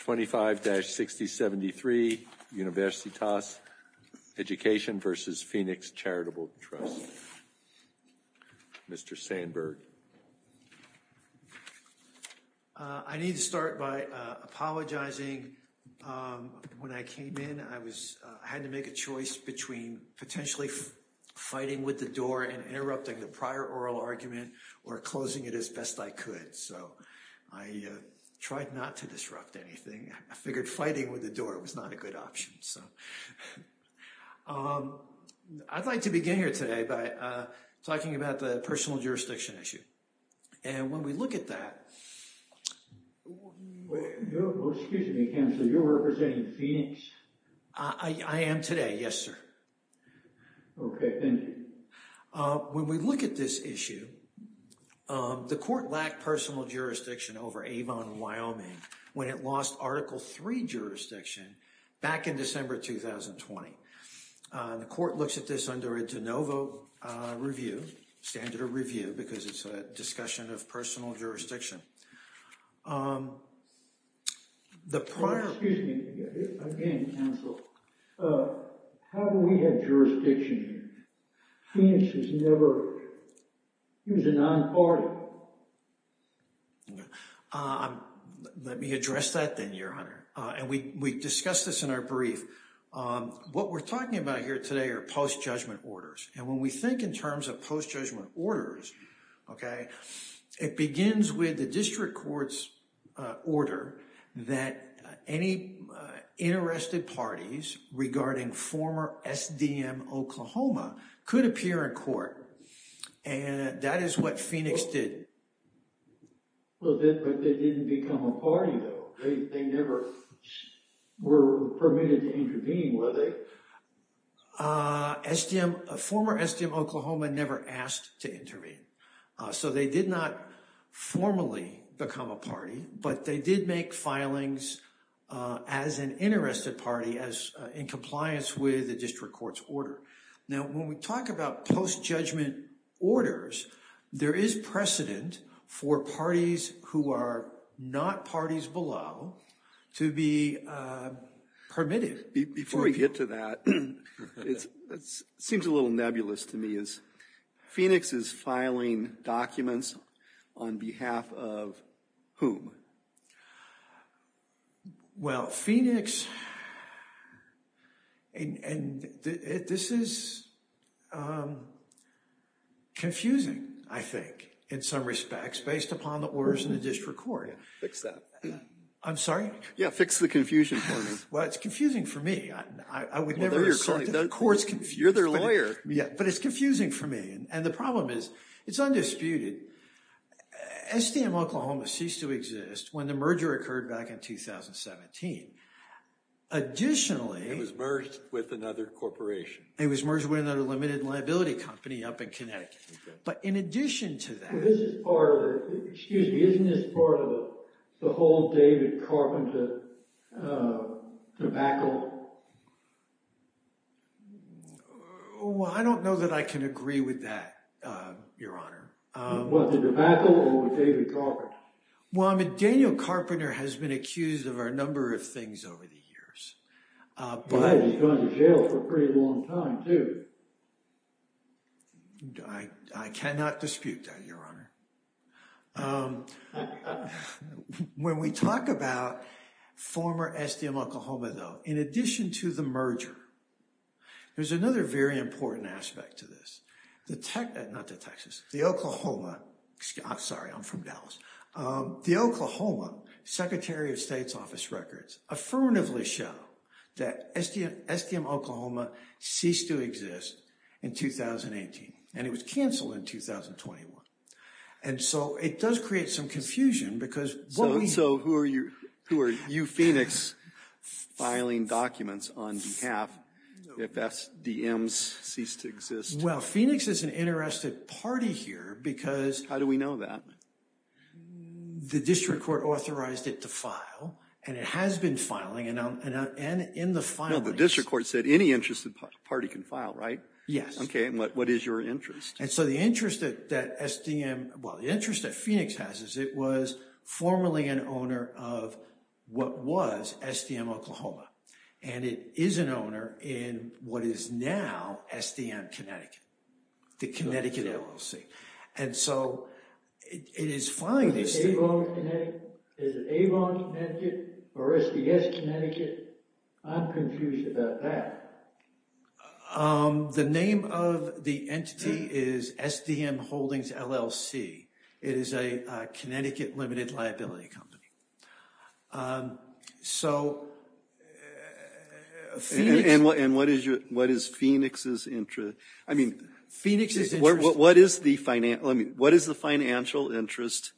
25-6073 Universitas Education v. Phoenix Charitable Trust Mr. Sandberg I need to start by apologizing. When I came in, I had to make a choice between potentially fighting with the door and interrupting the prior oral argument or closing it as best I could. So I tried not to disrupt anything. I figured fighting with the door was not a good option. I'd like to begin here today by talking about the personal jurisdiction issue. And when we look at that... Oh, excuse me, Counselor, you're representing Phoenix? I am today, yes, sir. Okay, thank you. When we look at this issue, the court lacked personal jurisdiction over Avon, Wyoming, when it lost Article III jurisdiction back in December 2020. The court looks at this under a de novo review, standard of review, because it's a discussion of personal jurisdiction. The prior... Oh, excuse me again, Counsel. How do we have jurisdiction? Phoenix has never... He was a non-party. Let me address that then, Your Honor. And we discussed this in our brief. What we're talking about here today are post-judgment orders. And when we think in terms of post-judgment orders, okay, it begins with the district court's order that any interested parties regarding former SDM Oklahoma could appear in court. And that is what Phoenix did. But they didn't become a party, though. They never were permitted to intervene, were they? Former SDM Oklahoma never asked to intervene. So they did not formally become a party, but they did make filings as an interested party in compliance with the district court's order. Now, when we talk about post-judgment orders, there is precedent for parties who are not parties below to be permitted. Before we get to that, it seems a little nebulous to me. Phoenix is filing documents on behalf of whom? Well, Phoenix... And this is confusing, I think, in some respects, based upon the orders in the district court. Fix that. I'm sorry? Yeah, fix the confusion for me. Well, it's confusing for me. I would never... Well, then you're calling... Court's confused. You're their lawyer. Yeah, but it's confusing for me. And the problem is, it's undisputed. SDM Oklahoma ceased to exist when the merger occurred back in 2017. Additionally... It was merged with another corporation. It was merged with another limited liability company up in Connecticut. But in addition to that... But this is part of the... Excuse me. Isn't this part of the whole David Carpenter debacle? Well, I don't know that I can agree with that, Your Honor. Was it a debacle or was it David Carpenter? Well, I mean, Daniel Carpenter has been accused of a number of things over the years. But he's gone to jail for a pretty long time, too. I cannot dispute that, Your Honor. When we talk about former SDM Oklahoma, though, in addition to the merger, there's another very important aspect to this. The... Not to Texas. The Oklahoma... Sorry, I'm from Dallas. The Oklahoma Secretary of State's office records affirmatively show that SDM Oklahoma ceased to exist in 2018, and it was canceled in 2021. And so it does create some confusion because what we... So who are you... Who are you, Phoenix, filing documents on behalf of SDM's ceased to exist? Well, Phoenix is an interested party here because... How do we know that? The district court authorized it to file, and it has been filing, and in the filing... The district court said any interested party can file, right? Yes. Okay. And what is your interest? And so the interest that SDM... Well, the interest that Phoenix has is it was formerly an owner of what was SDM Oklahoma, and it is an owner in what is now SDM Connecticut, the Connecticut LLC. And so it is fine... Is it Avon Connecticut or SDS Connecticut? I'm confused about that. The name of the entity is SDM Holdings LLC. It is a Connecticut limited liability company. So... And what is Phoenix's interest? I mean... Phoenix's interest... What is the financial interest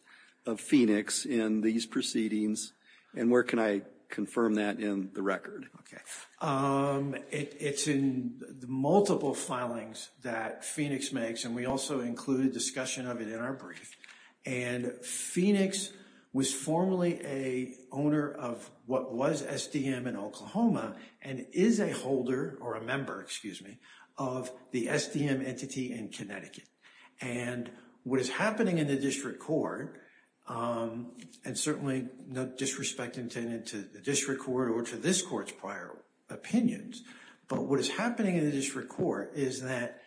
of Phoenix in these proceedings, and where can I confirm that in the record? Okay. It's in the multiple filings that Phoenix makes, and we also include a discussion of it in our brief. And Phoenix was formerly a owner of what was SDM in Oklahoma, and is a holder, or a member, excuse me, of the SDM entity in Connecticut. And what is happening in the district court, and certainly no disrespect intended to the district court or to this court's prior opinions, but what is happening in the district court is that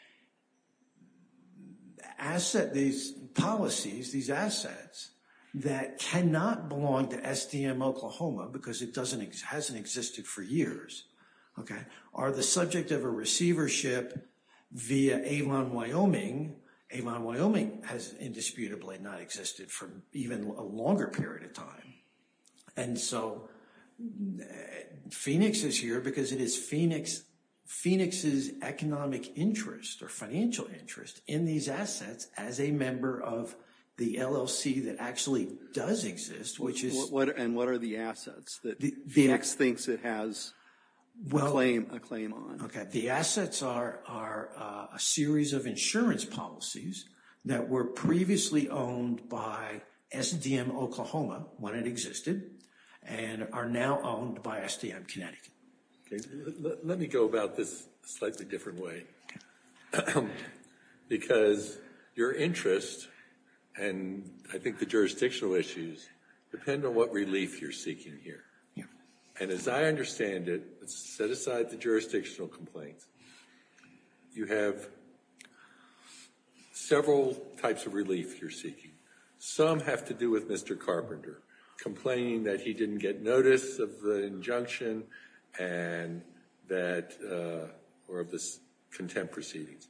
asset... These policies, these assets that cannot belong to SDM Oklahoma because it hasn't existed for years, are the subject of a receivership via Avon Wyoming. Avon Wyoming has indisputably not existed for even a longer period of time. And so Phoenix is here because it is Phoenix's economic interest or financial interest in these assets as a member of the LLC that actually does exist, which is... And what are the assets? Phoenix thinks it has a claim on. Okay. The assets are a series of insurance policies that were previously owned by SDM Oklahoma when it existed, and are now owned by SDM Connecticut. Let me go about this a slightly different way, because your interest, and I think the jurisdictional issues, depend on what relief you're seeking here. And as I understand it, let's set aside the jurisdictional complaints. You have several types of relief you're seeking. Some have to do with Mr. Carpenter complaining that he didn't get notice of the injunction and that... Or of the contempt proceedings.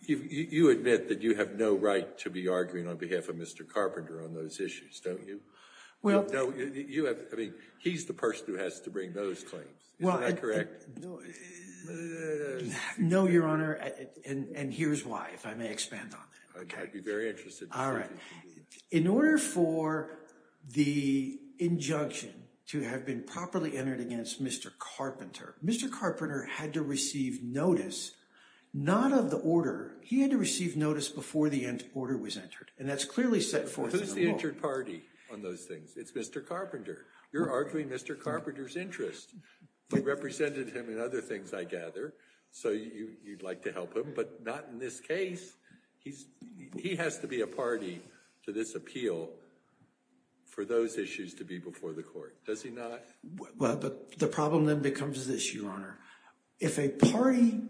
You admit that you have no right to be arguing on behalf of Mr. Carpenter on those issues, don't you? Well... No, you have... I mean, he's the person who has to bring those claims. Well, I... Isn't that correct? No, Your Honor. And here's why, if I may expand on that. Okay. I'd be very interested. All right. In order for the injunction to have been properly entered against Mr. Carpenter, Mr. Carpenter had to receive notice, not of the order. He had to receive notice before the order was entered, and that's clearly set forth in the law. Who's the entered party on those things? It's Mr. Carpenter. You're arguing Mr. Carpenter's interest. You represented him in other things, I gather, so you'd like to help him, but not in this case. He's... He has to be a party to this appeal for those issues to be before the court, does he not? Well, but the problem then becomes this, Your Honor. If a party,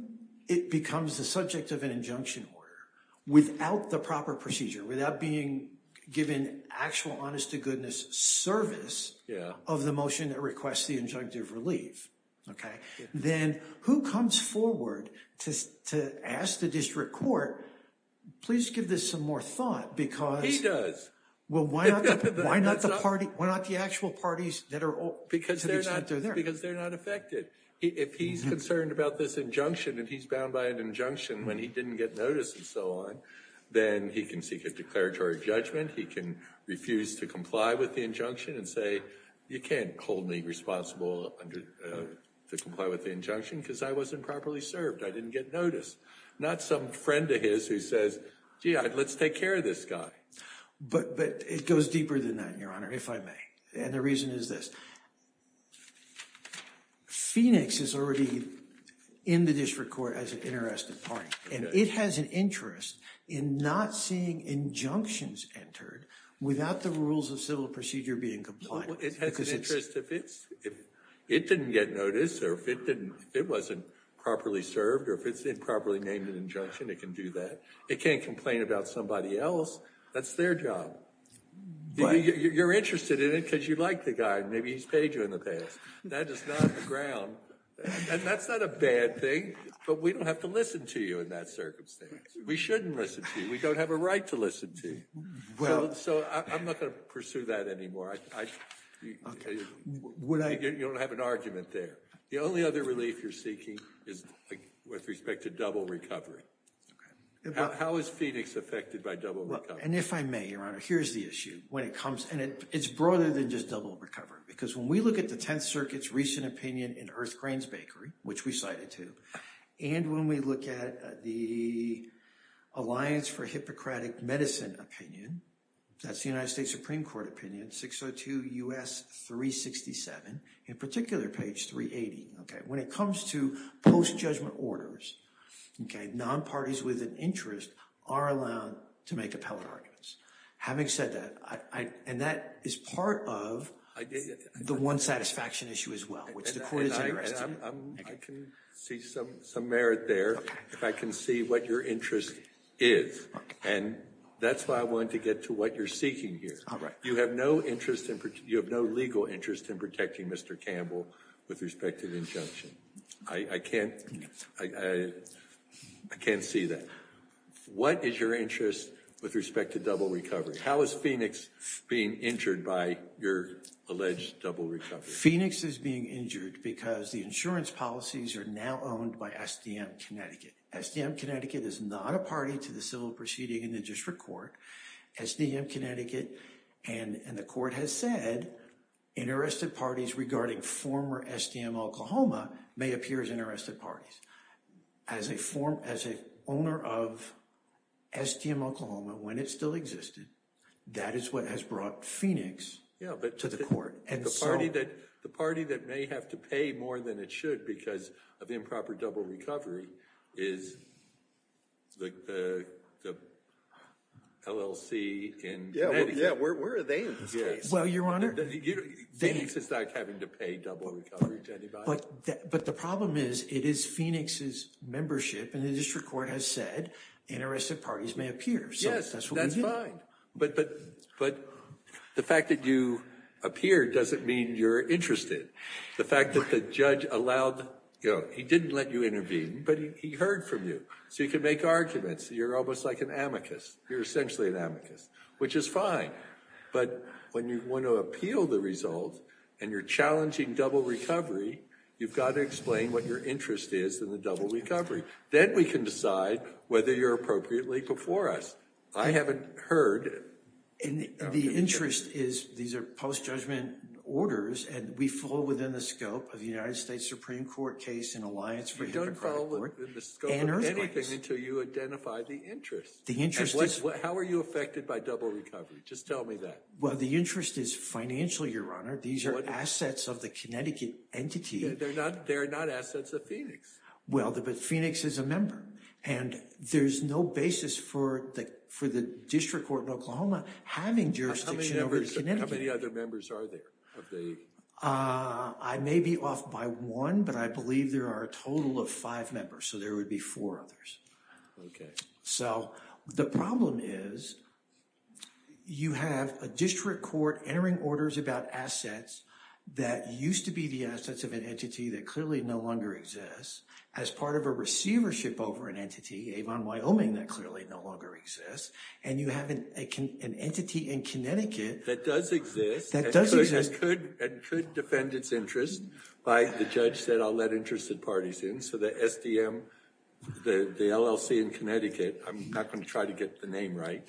it becomes the subject of an injunction order without the proper procedure, without being given actual honest-to-goodness service of the motion that requests the injunctive relief, okay, then who comes forward to ask the district court, please give this some more thought, because... He does. Well, why not the party? Why not the actual parties that are all... Because they're not affected. If he's concerned about this injunction and he's bound by an injunction when he didn't get notice and so on, then he can seek a declaratory judgment. He can refuse to comply with the injunction and say, you can't hold me responsible to comply with the injunction because I wasn't properly served. I didn't get notice. Not some friend of his who says, gee, let's take care of this guy. But it goes deeper than that, Your Honor, if I may, and the reason is this. Phoenix is already in the district court as an interested party, and it has an interest in not seeing injunctions entered without the rules of civil procedure being complied with. It has an interest if it didn't get notice or if it didn't, it wasn't properly served or if it's improperly named an injunction, it can do that. It can't complain about somebody else. That's their job. You're interested in it because you like the guy and maybe he's paid you in the past. That is not the ground, and that's not a bad thing, but we don't have to listen to you in that circumstance. We shouldn't listen to you. We don't have a right to listen to you. So I'm not going to pursue that anymore. You don't have an argument there. The only other relief you're seeking is with respect to double recovery. How is Phoenix affected by double recovery? And if I may, Your Honor, here's the issue when it comes, and it's broader than just double recovery, because when we look at the Tenth Circuit's recent opinion in Earth Grains Bakery, which we cited too, and when we look at the Alliance for Hippocratic Medicine opinion, that's the United States Supreme Court opinion, 602 U.S. 367, in particular page 380. When it comes to post-judgment orders, non-parties with an interest are allowed to make appellate arguments. Having said that, and that is part of the one satisfaction issue as well, which the court is interested in. I can see some merit there if I can see what your interest is, and that's why I wanted to get to what you're seeking here. You have no legal interest in protecting Mr. Campbell with respect to the injunction. I can't see that. What is your interest with respect to double recovery? How is Phoenix being injured by your alleged double recovery? Phoenix is being injured because the insurance policies are now owned by SDM Connecticut. SDM Connecticut is not a party to the civil proceeding in the district court. SDM Connecticut, and the court has said, interested parties regarding former SDM Oklahoma may appear as interested parties. As an owner of SDM Oklahoma, when it still existed, that is what has brought Phoenix to the court. The party that may have to pay more than it should because of improper double recovery is the LLC in Connecticut. Yeah, where are they in this case? Well, Your Honor, Phoenix is not having to pay double recovery to anybody. But the problem is, it is Phoenix's membership, and the district court has said, interested parties may appear. Yes, that's fine, but the fact that you appear doesn't mean you're interested. The fact that the judge allowed, he didn't let you intervene, but he heard from you. So you can make arguments. You're almost like an amicus. You're essentially an amicus, which is fine. But when you want to appeal the result, and you're challenging double recovery, you've got to explain what your interest is in the double recovery. Then we can decide whether you're appropriately before us. I haven't heard. And the interest is, these are post-judgment orders, and we fall within the scope of the United States Supreme Court case in Alliance for a Democratic Court and Earthwise. You don't fall within the scope of anything until you identify the interest. The interest is... How are you affected by double recovery? Just tell me that. Well, the interest is financial, Your Honor. These are assets of the Connecticut entity. They're not assets of Phoenix. Well, but Phoenix is a member, and there's no basis for the district court in Oklahoma having jurisdiction over Connecticut. How many other members are there? I may be off by one, but I believe there are a total of five members. So there would be four others. So the problem is, you have a district court entering orders about assets that used to be the assets of an entity that clearly no longer exists as part of a receivership over an entity, Avon, Wyoming, that clearly no longer exists. And you have an entity in Connecticut... That does exist... That does exist... And could defend its interest. The judge said, I'll let interested parties in. So the SDM, the LLC in Connecticut... I'm not going to try to get the name right.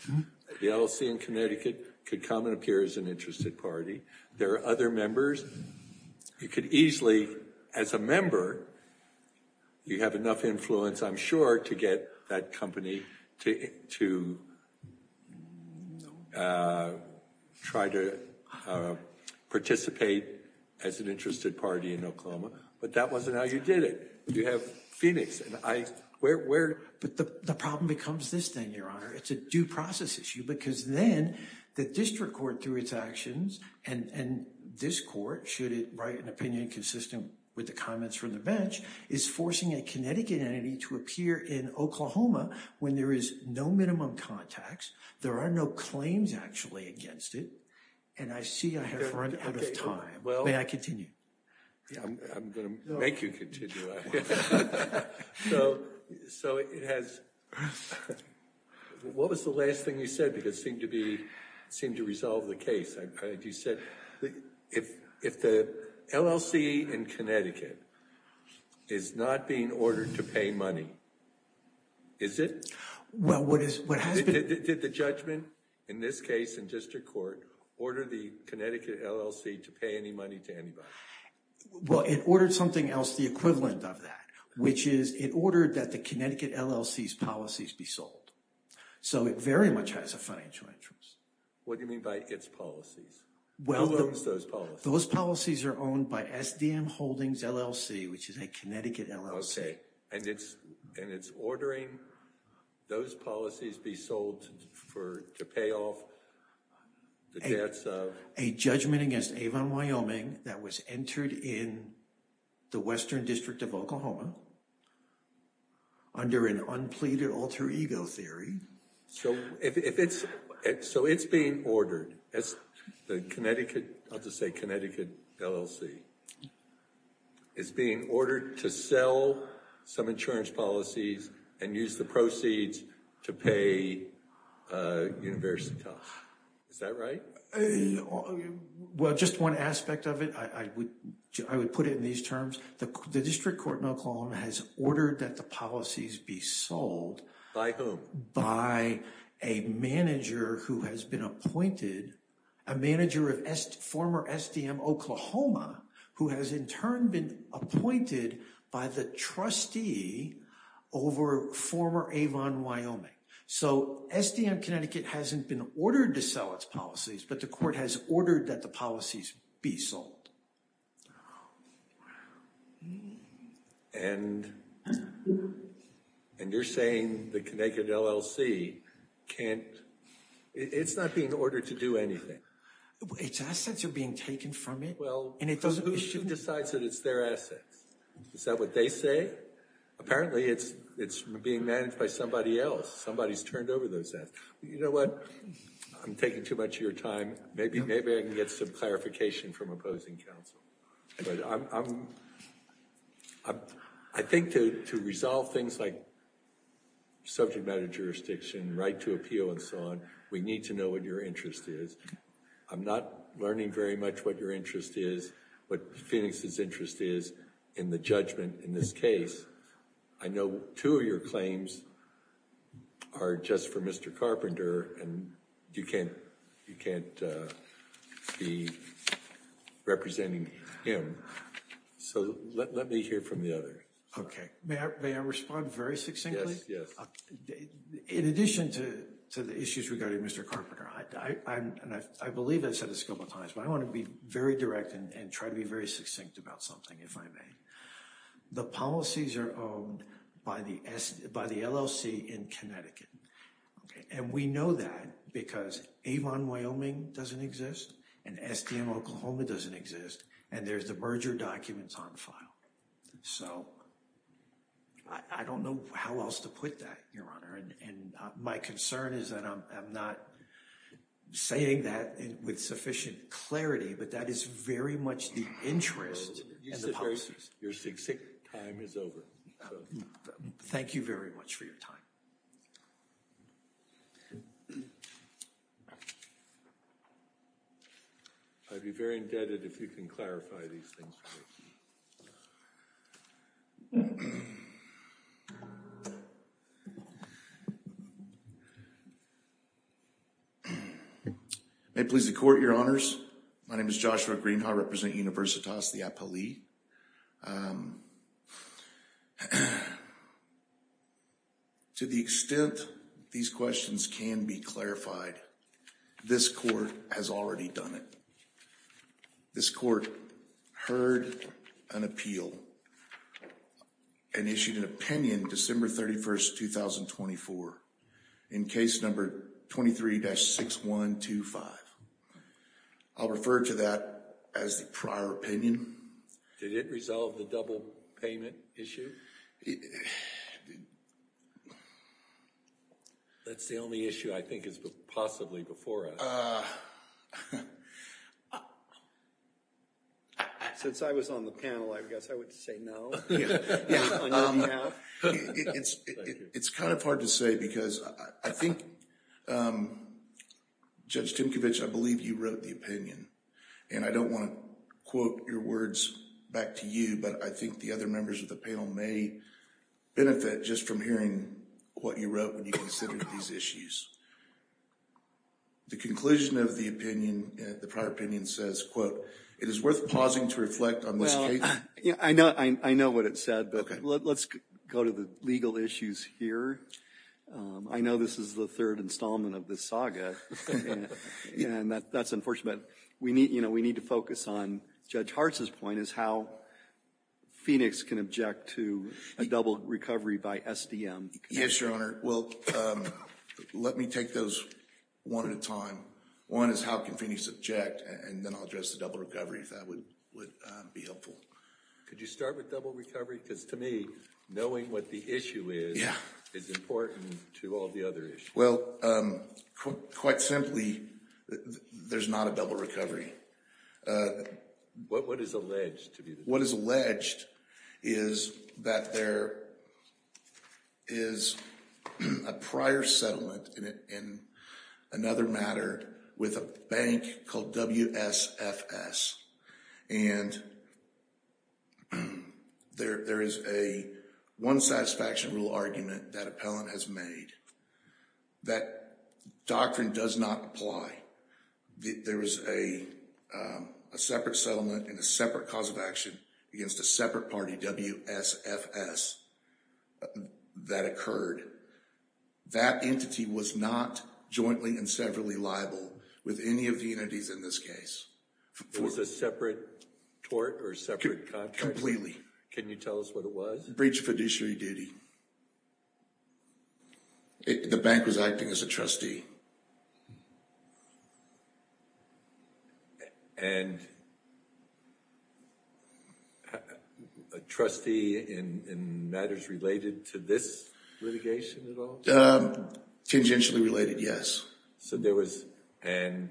The LLC in Connecticut could come and appear as an interested party. There are other members. You could easily, as a member, you have enough influence, I'm sure, to get that company to try to participate as an interested party in Oklahoma. But that wasn't how you did it. You have Phoenix. But the problem becomes this thing, Your Honor. It's a due process issue, because then the district court, through its actions, and this court, should it write an opinion consistent with the comments from the bench, is forcing a Connecticut entity to appear in Oklahoma when there is no minimum contacts. There are no claims, actually, against it. And I see I have run out of time. May I continue? I'm going to make you continue. So what was the last thing you said? Because it seemed to resolve the case. If the LLC in Connecticut is not being ordered to pay money, is it? Well, what has been... Did the judgment, in this case, in district court, order the Connecticut LLC to pay any money to anybody? Well, it ordered something else the equivalent of that, which is it ordered that the Connecticut LLC's policies be sold. So it very much has a financial interest. What do you mean by its policies? Who owns those policies? Those policies are owned by SDM Holdings LLC, which is a Connecticut LLC. Okay. And it's ordering those policies be sold to pay off the debts of... A judgment against Avon Wyoming that was entered in the Western District of Oklahoma under an unpleaded alter ego theory. So if it's... So it's being ordered as the Connecticut... I'll just say Connecticut LLC is being ordered to sell some insurance policies and use the proceeds to pay University Tax. Is that right? Well, just one aspect of it. I would put it in these terms. The district court in Oklahoma has ordered that the policies be sold... By whom? By a manager who has been appointed, a manager of former SDM Oklahoma, who has in turn been appointed by the trustee over former Avon Wyoming. So SDM Connecticut hasn't been ordered to sell its policies, but the court has ordered that the policies be sold. And you're saying the Connecticut LLC can't... It's not being ordered to do anything. Its assets are being taken from it. Well, who decides that it's their assets? Is that what they say? Apparently it's being managed by somebody else. Somebody's turned over those assets. You know what? I'm taking too much of your time. Maybe I can get some clarification from opposing counsel. I think to resolve things like subject matter jurisdiction, right to appeal, and so on, we need to know what your interest is. I'm not learning very much what your interest is, what Phoenix's interest is in the judgment in this case. I know two of your claims are just for Mr. Carpenter, and you can't be representing him. So let me hear from the other. Okay. May I respond very succinctly? Yes, yes. In addition to the issues regarding Mr. Carpenter, and I believe I've said this a couple of times, but I want to be very direct and try to be very succinct about something, if I may. The policies are owned by the LLC in Connecticut. And we know that because Avon Wyoming doesn't exist, and SDM Oklahoma doesn't exist, and there's the merger documents on file. So I don't know how else to put that, Your Honor. And my concern is that I'm not saying that with sufficient clarity, but that is very much the interest and the policies. Your succinct time is over. Thank you very much for your time. I'd be very indebted if you can clarify these things for me. May it please the Court, Your Honors. My name is Joshua Greenhaw, representing Universitas de Apelli. To the extent these questions can be clarified, this Court has already done it. This Court heard an appeal and issued an opinion December 31st, 2024, in case number 23-6125. I'll refer to that as the prior opinion. Did it resolve the double payment issue? That's the only issue I think is possibly before us. Since I was on the panel, I guess I would say no. It's kind of hard to say because I think, um, Judge Timcovich, I believe you wrote the opinion. And I don't want to quote your words back to you, but I think the other members of the panel may benefit just from hearing what you wrote when you considered these issues. The conclusion of the opinion, the prior opinion says, quote, it is worth pausing to reflect on this case. Yeah, I know what it said, but let's go to the legal issues here. I know this is the third installment of this saga, and that's unfortunate. We need, you know, we need to focus on Judge Hartz's point, is how Phoenix can object to a double recovery by SDM. Yes, Your Honor. Well, let me take those one at a time. One is how can Phoenix object, and then I'll address the double recovery if that would be helpful. Could you start with double recovery? Because to me, knowing what the issue is, is important to all the other issues. Well, quite simply, there's not a double recovery. What is alleged to be the double recovery? What is alleged is that there is a prior settlement in another matter with a bank called WSFS. And there is a one satisfaction rule argument that appellant has made that doctrine does not apply. There is a separate settlement and a separate cause of action against a separate party, WSFS, that occurred. That entity was not jointly and severally liable with any of the entities in this case. It was a separate tort or separate contract? Can you tell us what it was? Breach of fiduciary duty. The bank was acting as a trustee. And a trustee in matters related to this litigation at all? Tangentially related, yes. So there was, and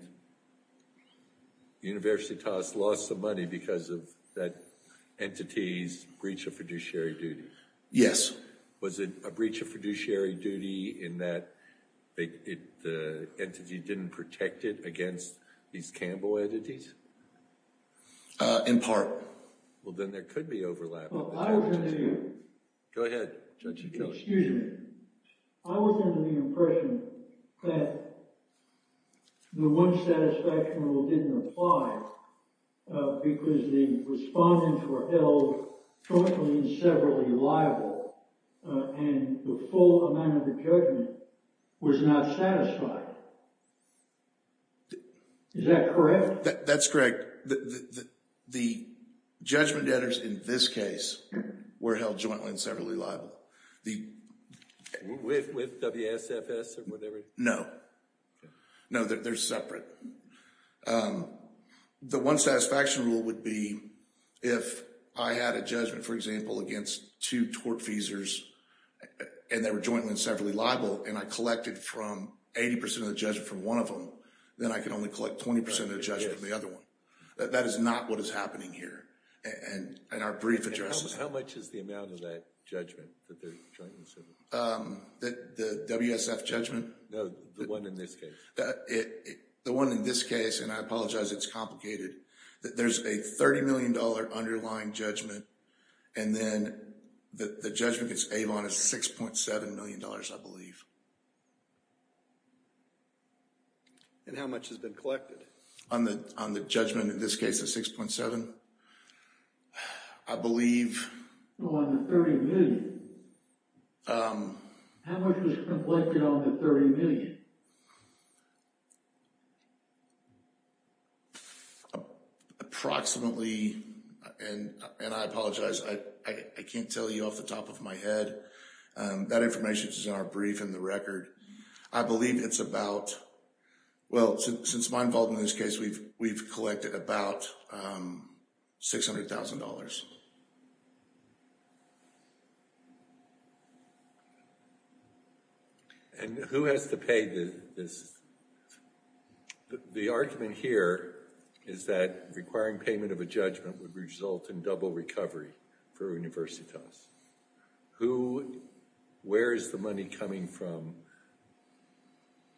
Universitas lost some money because of that entity's breach of fiduciary duty? Yes. Was it a breach of fiduciary duty in that the entity didn't protect it against these Campbell entities? In part. Well, then there could be overlap. Well, I was under the impression that the one satisfaction rule didn't apply because the respondents were held jointly and severally liable and the full amount of the judgment was not satisfied. Is that correct? That's correct. The judgment debtors in this case were held jointly and severally liable. With WSFS or whatever? No. No, they're separate. The one satisfaction rule would be if I had a judgment, for example, against two tort feasors and they were jointly and severally liable and I collected from 80% of the judgment from one of them, then I can only collect 20% of the judgment from the other one. That is not what is happening here in our brief addresses. How much is the amount of that judgment that they're jointly and severally liable? The WSF judgment? No, the one in this case. The one in this case, and I apologize it's complicated, that there's a $30 million underlying judgment and then the judgment against Avon is $6.7 million, I believe. And how much has been collected? On the judgment in this case is 6.7. I believe. Well, on the 30 million. Approximately, and I apologize, I can't tell you off the top of my head. That information is in our brief and the record. I believe it's about, well, since my involvement in this case, we've collected about $600,000. And who has to pay this? The argument here is that requiring payment of a judgment would result in double recovery for Universitas. Who, where is the money coming from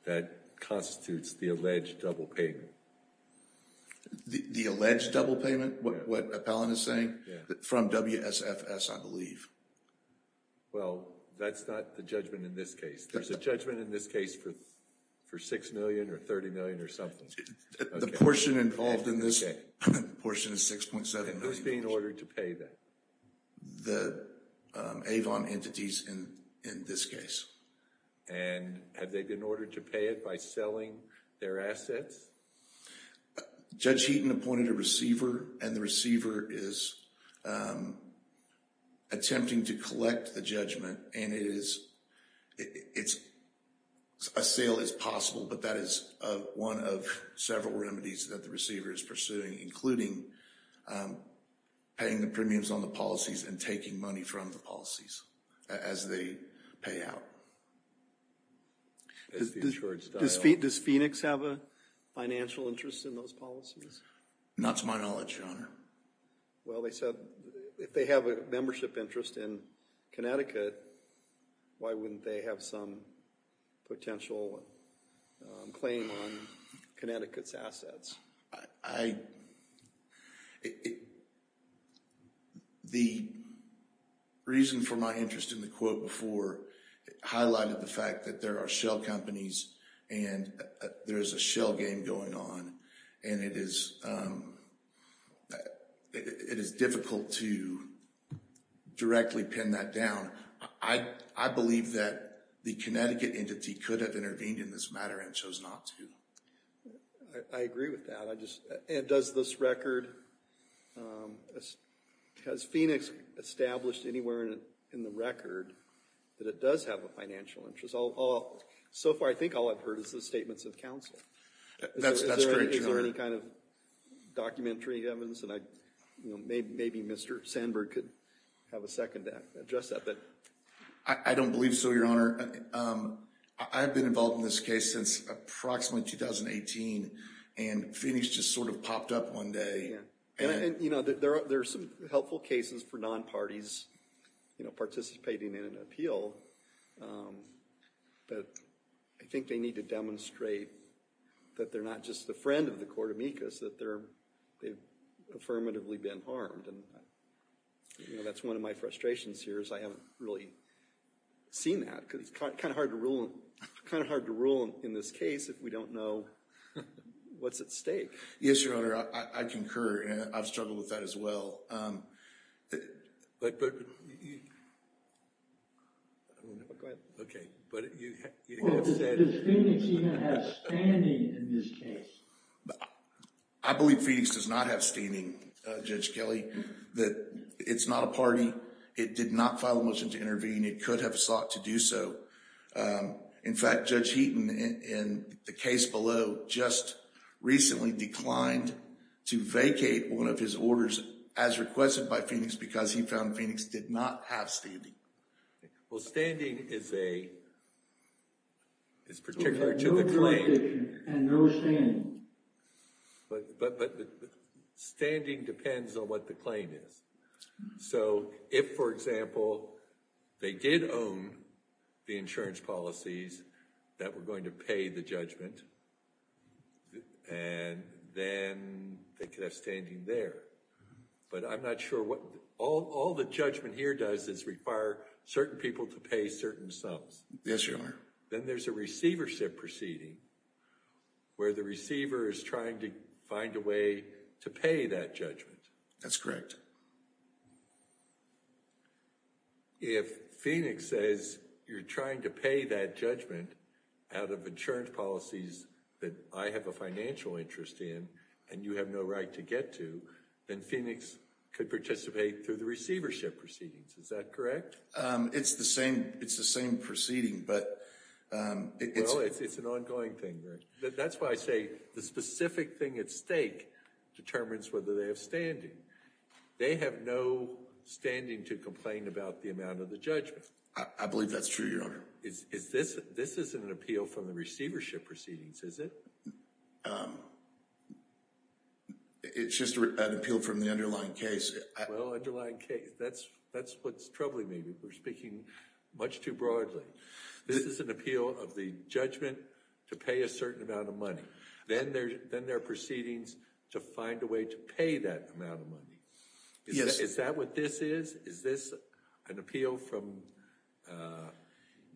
that constitutes the alleged double payment? The alleged double payment, what Appellant is saying? Yeah. From WSFS, I believe. Well, that's not the judgment in this case. There's a judgment in this case for $6 million or $30 million or something. The portion involved in this portion is $6.7 million. And who's being ordered to pay that? The Avon entities in this case. And have they been ordered to pay it by selling their assets? Judge Heaton appointed a receiver and the receiver is attempting to collect the judgment. And a sale is possible, but that is one of several remedies that the receiver is pursuing, including paying the premiums on the policies and taking money from the policies as they pay out. Does Phoenix have a financial interest in those policies? Not to my knowledge, Your Honor. Well, they said if they have a membership interest in Connecticut, why wouldn't they have some potential claim on Connecticut's assets? The reason for my interest in the quote before highlighted the fact that there are shell claims going on and it is difficult to directly pin that down. I believe that the Connecticut entity could have intervened in this matter and chose not to. I agree with that. And does this record, has Phoenix established anywhere in the record that it does have a financial interest? So far, I think all I've heard is the statements of counsel. That's correct, Your Honor. Is there any kind of documentary evidence? And maybe Mr. Sandberg could have a second to address that. I don't believe so, Your Honor. I've been involved in this case since approximately 2018 and Phoenix just sort of popped up one day. And there are some helpful cases for non-parties participating in an appeal, but I think they need to demonstrate that they're not just a friend of the Corte Micas, that they've affirmatively been harmed. And that's one of my frustrations here is I haven't really seen that, because it's kind of hard to rule in this case if we don't know what's at stake. Yes, Your Honor, I concur. I've struggled with that as well. But, I don't know if I, go ahead. But you have said. Does Phoenix even have standing in this case? I believe Phoenix does not have standing, Judge Kelly. That it's not a party. It did not file a motion to intervene. It could have sought to do so. In fact, Judge Heaton in the case below just recently declined to vacate one of his orders as requested by Phoenix because he found Phoenix did not have standing. Well, standing is a, is particular to the claim. And no standing. But standing depends on what the claim is. So if, for example, they did own the insurance policies that were going to pay the judgment, and then they could have standing there. But I'm not sure what, all the judgment here does is require certain people to pay certain sums. Yes, Your Honor. Then there's a receivership proceeding where the receiver is trying to find a way to pay that judgment. That's correct. If Phoenix says you're trying to pay that judgment out of insurance policies that I have a financial interest in and you have no right to get to, then Phoenix could participate through the receivership proceedings. Is that correct? It's the same. It's the same proceeding. But it's an ongoing thing. That's why I say the specific thing at stake determines whether they have standing. They have no standing to complain about the amount of the judgment. I believe that's true, Your Honor. This isn't an appeal from the receivership proceedings, is it? It's just an appeal from the underlying case. Well, underlying case, that's what's troubling me. We're speaking much too broadly. This is an appeal of the judgment to pay a certain amount of money. Then there are proceedings to find a way to pay that amount of money. Is that what this is? Is this an appeal from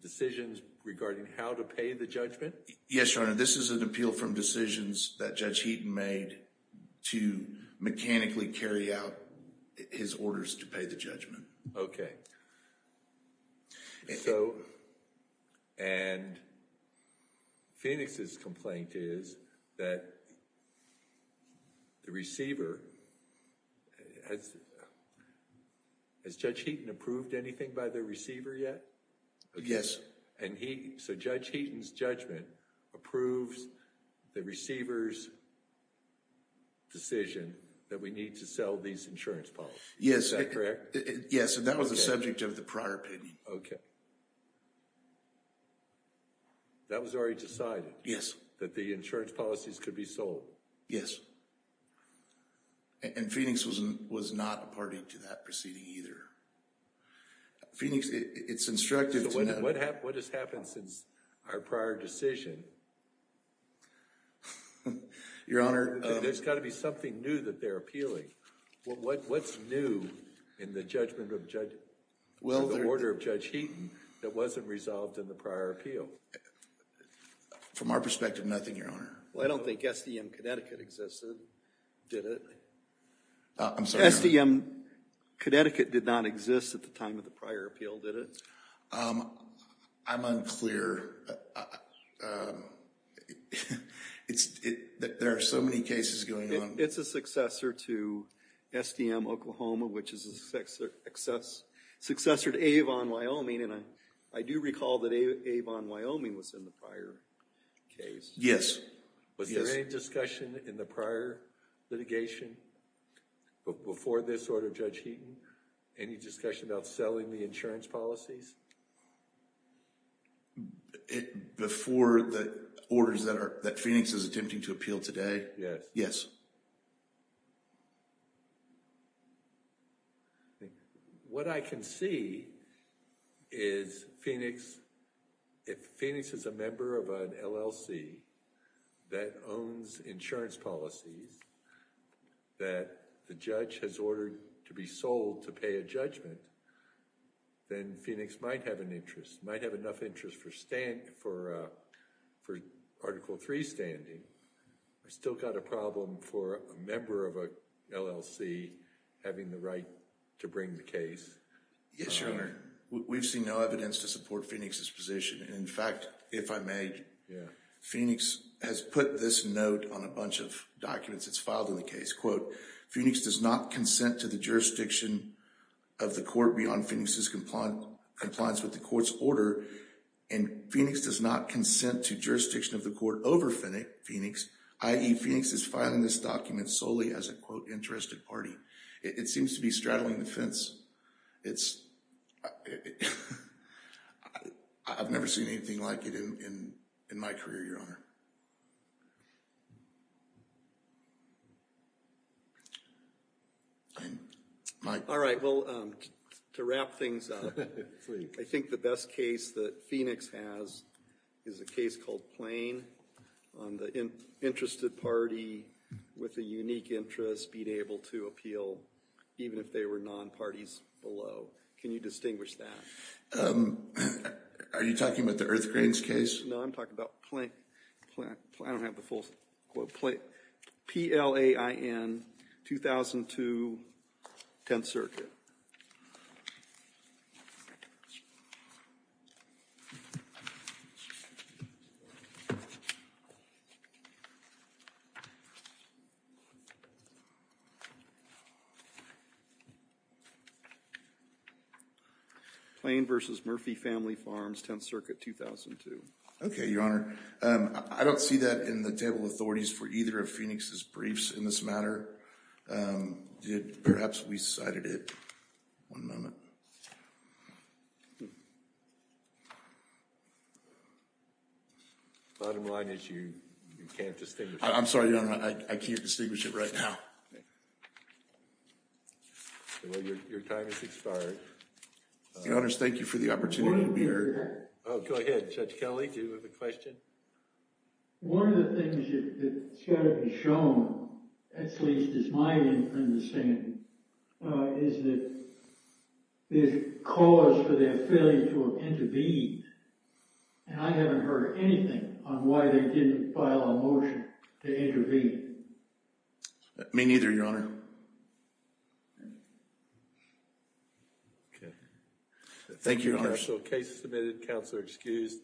decisions regarding how to pay the judgment? Yes, Your Honor. This is an appeal from decisions that Judge Heaton made to mechanically carry out his orders to pay the judgment. And Phoenix's complaint is that the receiver... Has Judge Heaton approved anything by the receiver yet? Yes. So Judge Heaton's judgment approves the receiver's decision that we need to sell these insurance policies, is that correct? Yes, and that was the subject of the prior opinion. Okay. That was already decided? Yes. That the insurance policies could be sold? Yes. And Phoenix was not a party to that proceeding either. Phoenix, it's instructed to... What has happened since our prior decision? Your Honor... There's got to be something new that they're appealing. What's new in the judgment of Judge... Well... The order of Judge Heaton that wasn't resolved in the prior appeal? From our perspective, nothing, Your Honor. Well, I don't think SDM Connecticut existed, did it? I'm sorry. SDM Connecticut did not exist at the time of the prior appeal, did it? I'm unclear. There are so many cases going on. It's a successor to SDM Oklahoma, which is a successor to Avon, Wyoming, and I do recall that Avon, Wyoming was in the prior case. Yes. Was there any discussion in the prior litigation before this order of Judge Heaton? Any discussion about selling the insurance policies? Before the orders that Phoenix is attempting to appeal today? Yes. What I can see is Phoenix... If Phoenix is a member of an LLC that owns insurance policies that the judge has ordered to be sold to pay a judgment, then Phoenix might have an interest, might have enough interest for Article III standing. I still got a problem for a member of an LLC having the right to bring the case. We've seen no evidence to support Phoenix's position. In fact, if I may, Phoenix has put this note on a bunch of documents that's filed in the case. Phoenix does not consent to the jurisdiction of the court beyond Phoenix's compliance with the court's order, and Phoenix does not consent to jurisdiction of the court over Phoenix, i.e. Phoenix is filing this document solely as a, quote, interested party. It seems to be straddling the fence. I've never seen anything like it in my career, Your Honor. All right, well, to wrap things up, I think the best case that Phoenix has is a case called Plain on the interested party with a unique interest being able to appeal, even if they were non-parties below. Can you distinguish that? Are you talking about the Earthgrains case? No, I'm talking about Plain. I don't have the full quote. P-L-A-I-N, 2002, Tenth Circuit. Plain v. Murphy Family Farms, Tenth Circuit, 2002. Okay, Your Honor. I don't see that in the table of authorities for either of Phoenix's briefs in this matter. Perhaps we cited it. One moment. Bottom line is you can't distinguish it. I'm sorry, Your Honor. I can't distinguish it right now. Your time has expired. Your Honors, thank you for the opportunity to be here. Oh, go ahead, Judge Kelley. Do you have a question? One of the things that's got to be shown, at least as my understanding, is that there's cause for their failure to intervene. And I haven't heard anything on why they didn't file a motion to intervene. Me neither, Your Honor. Okay. Thank you, Your Honor. Case submitted. Counselor excused.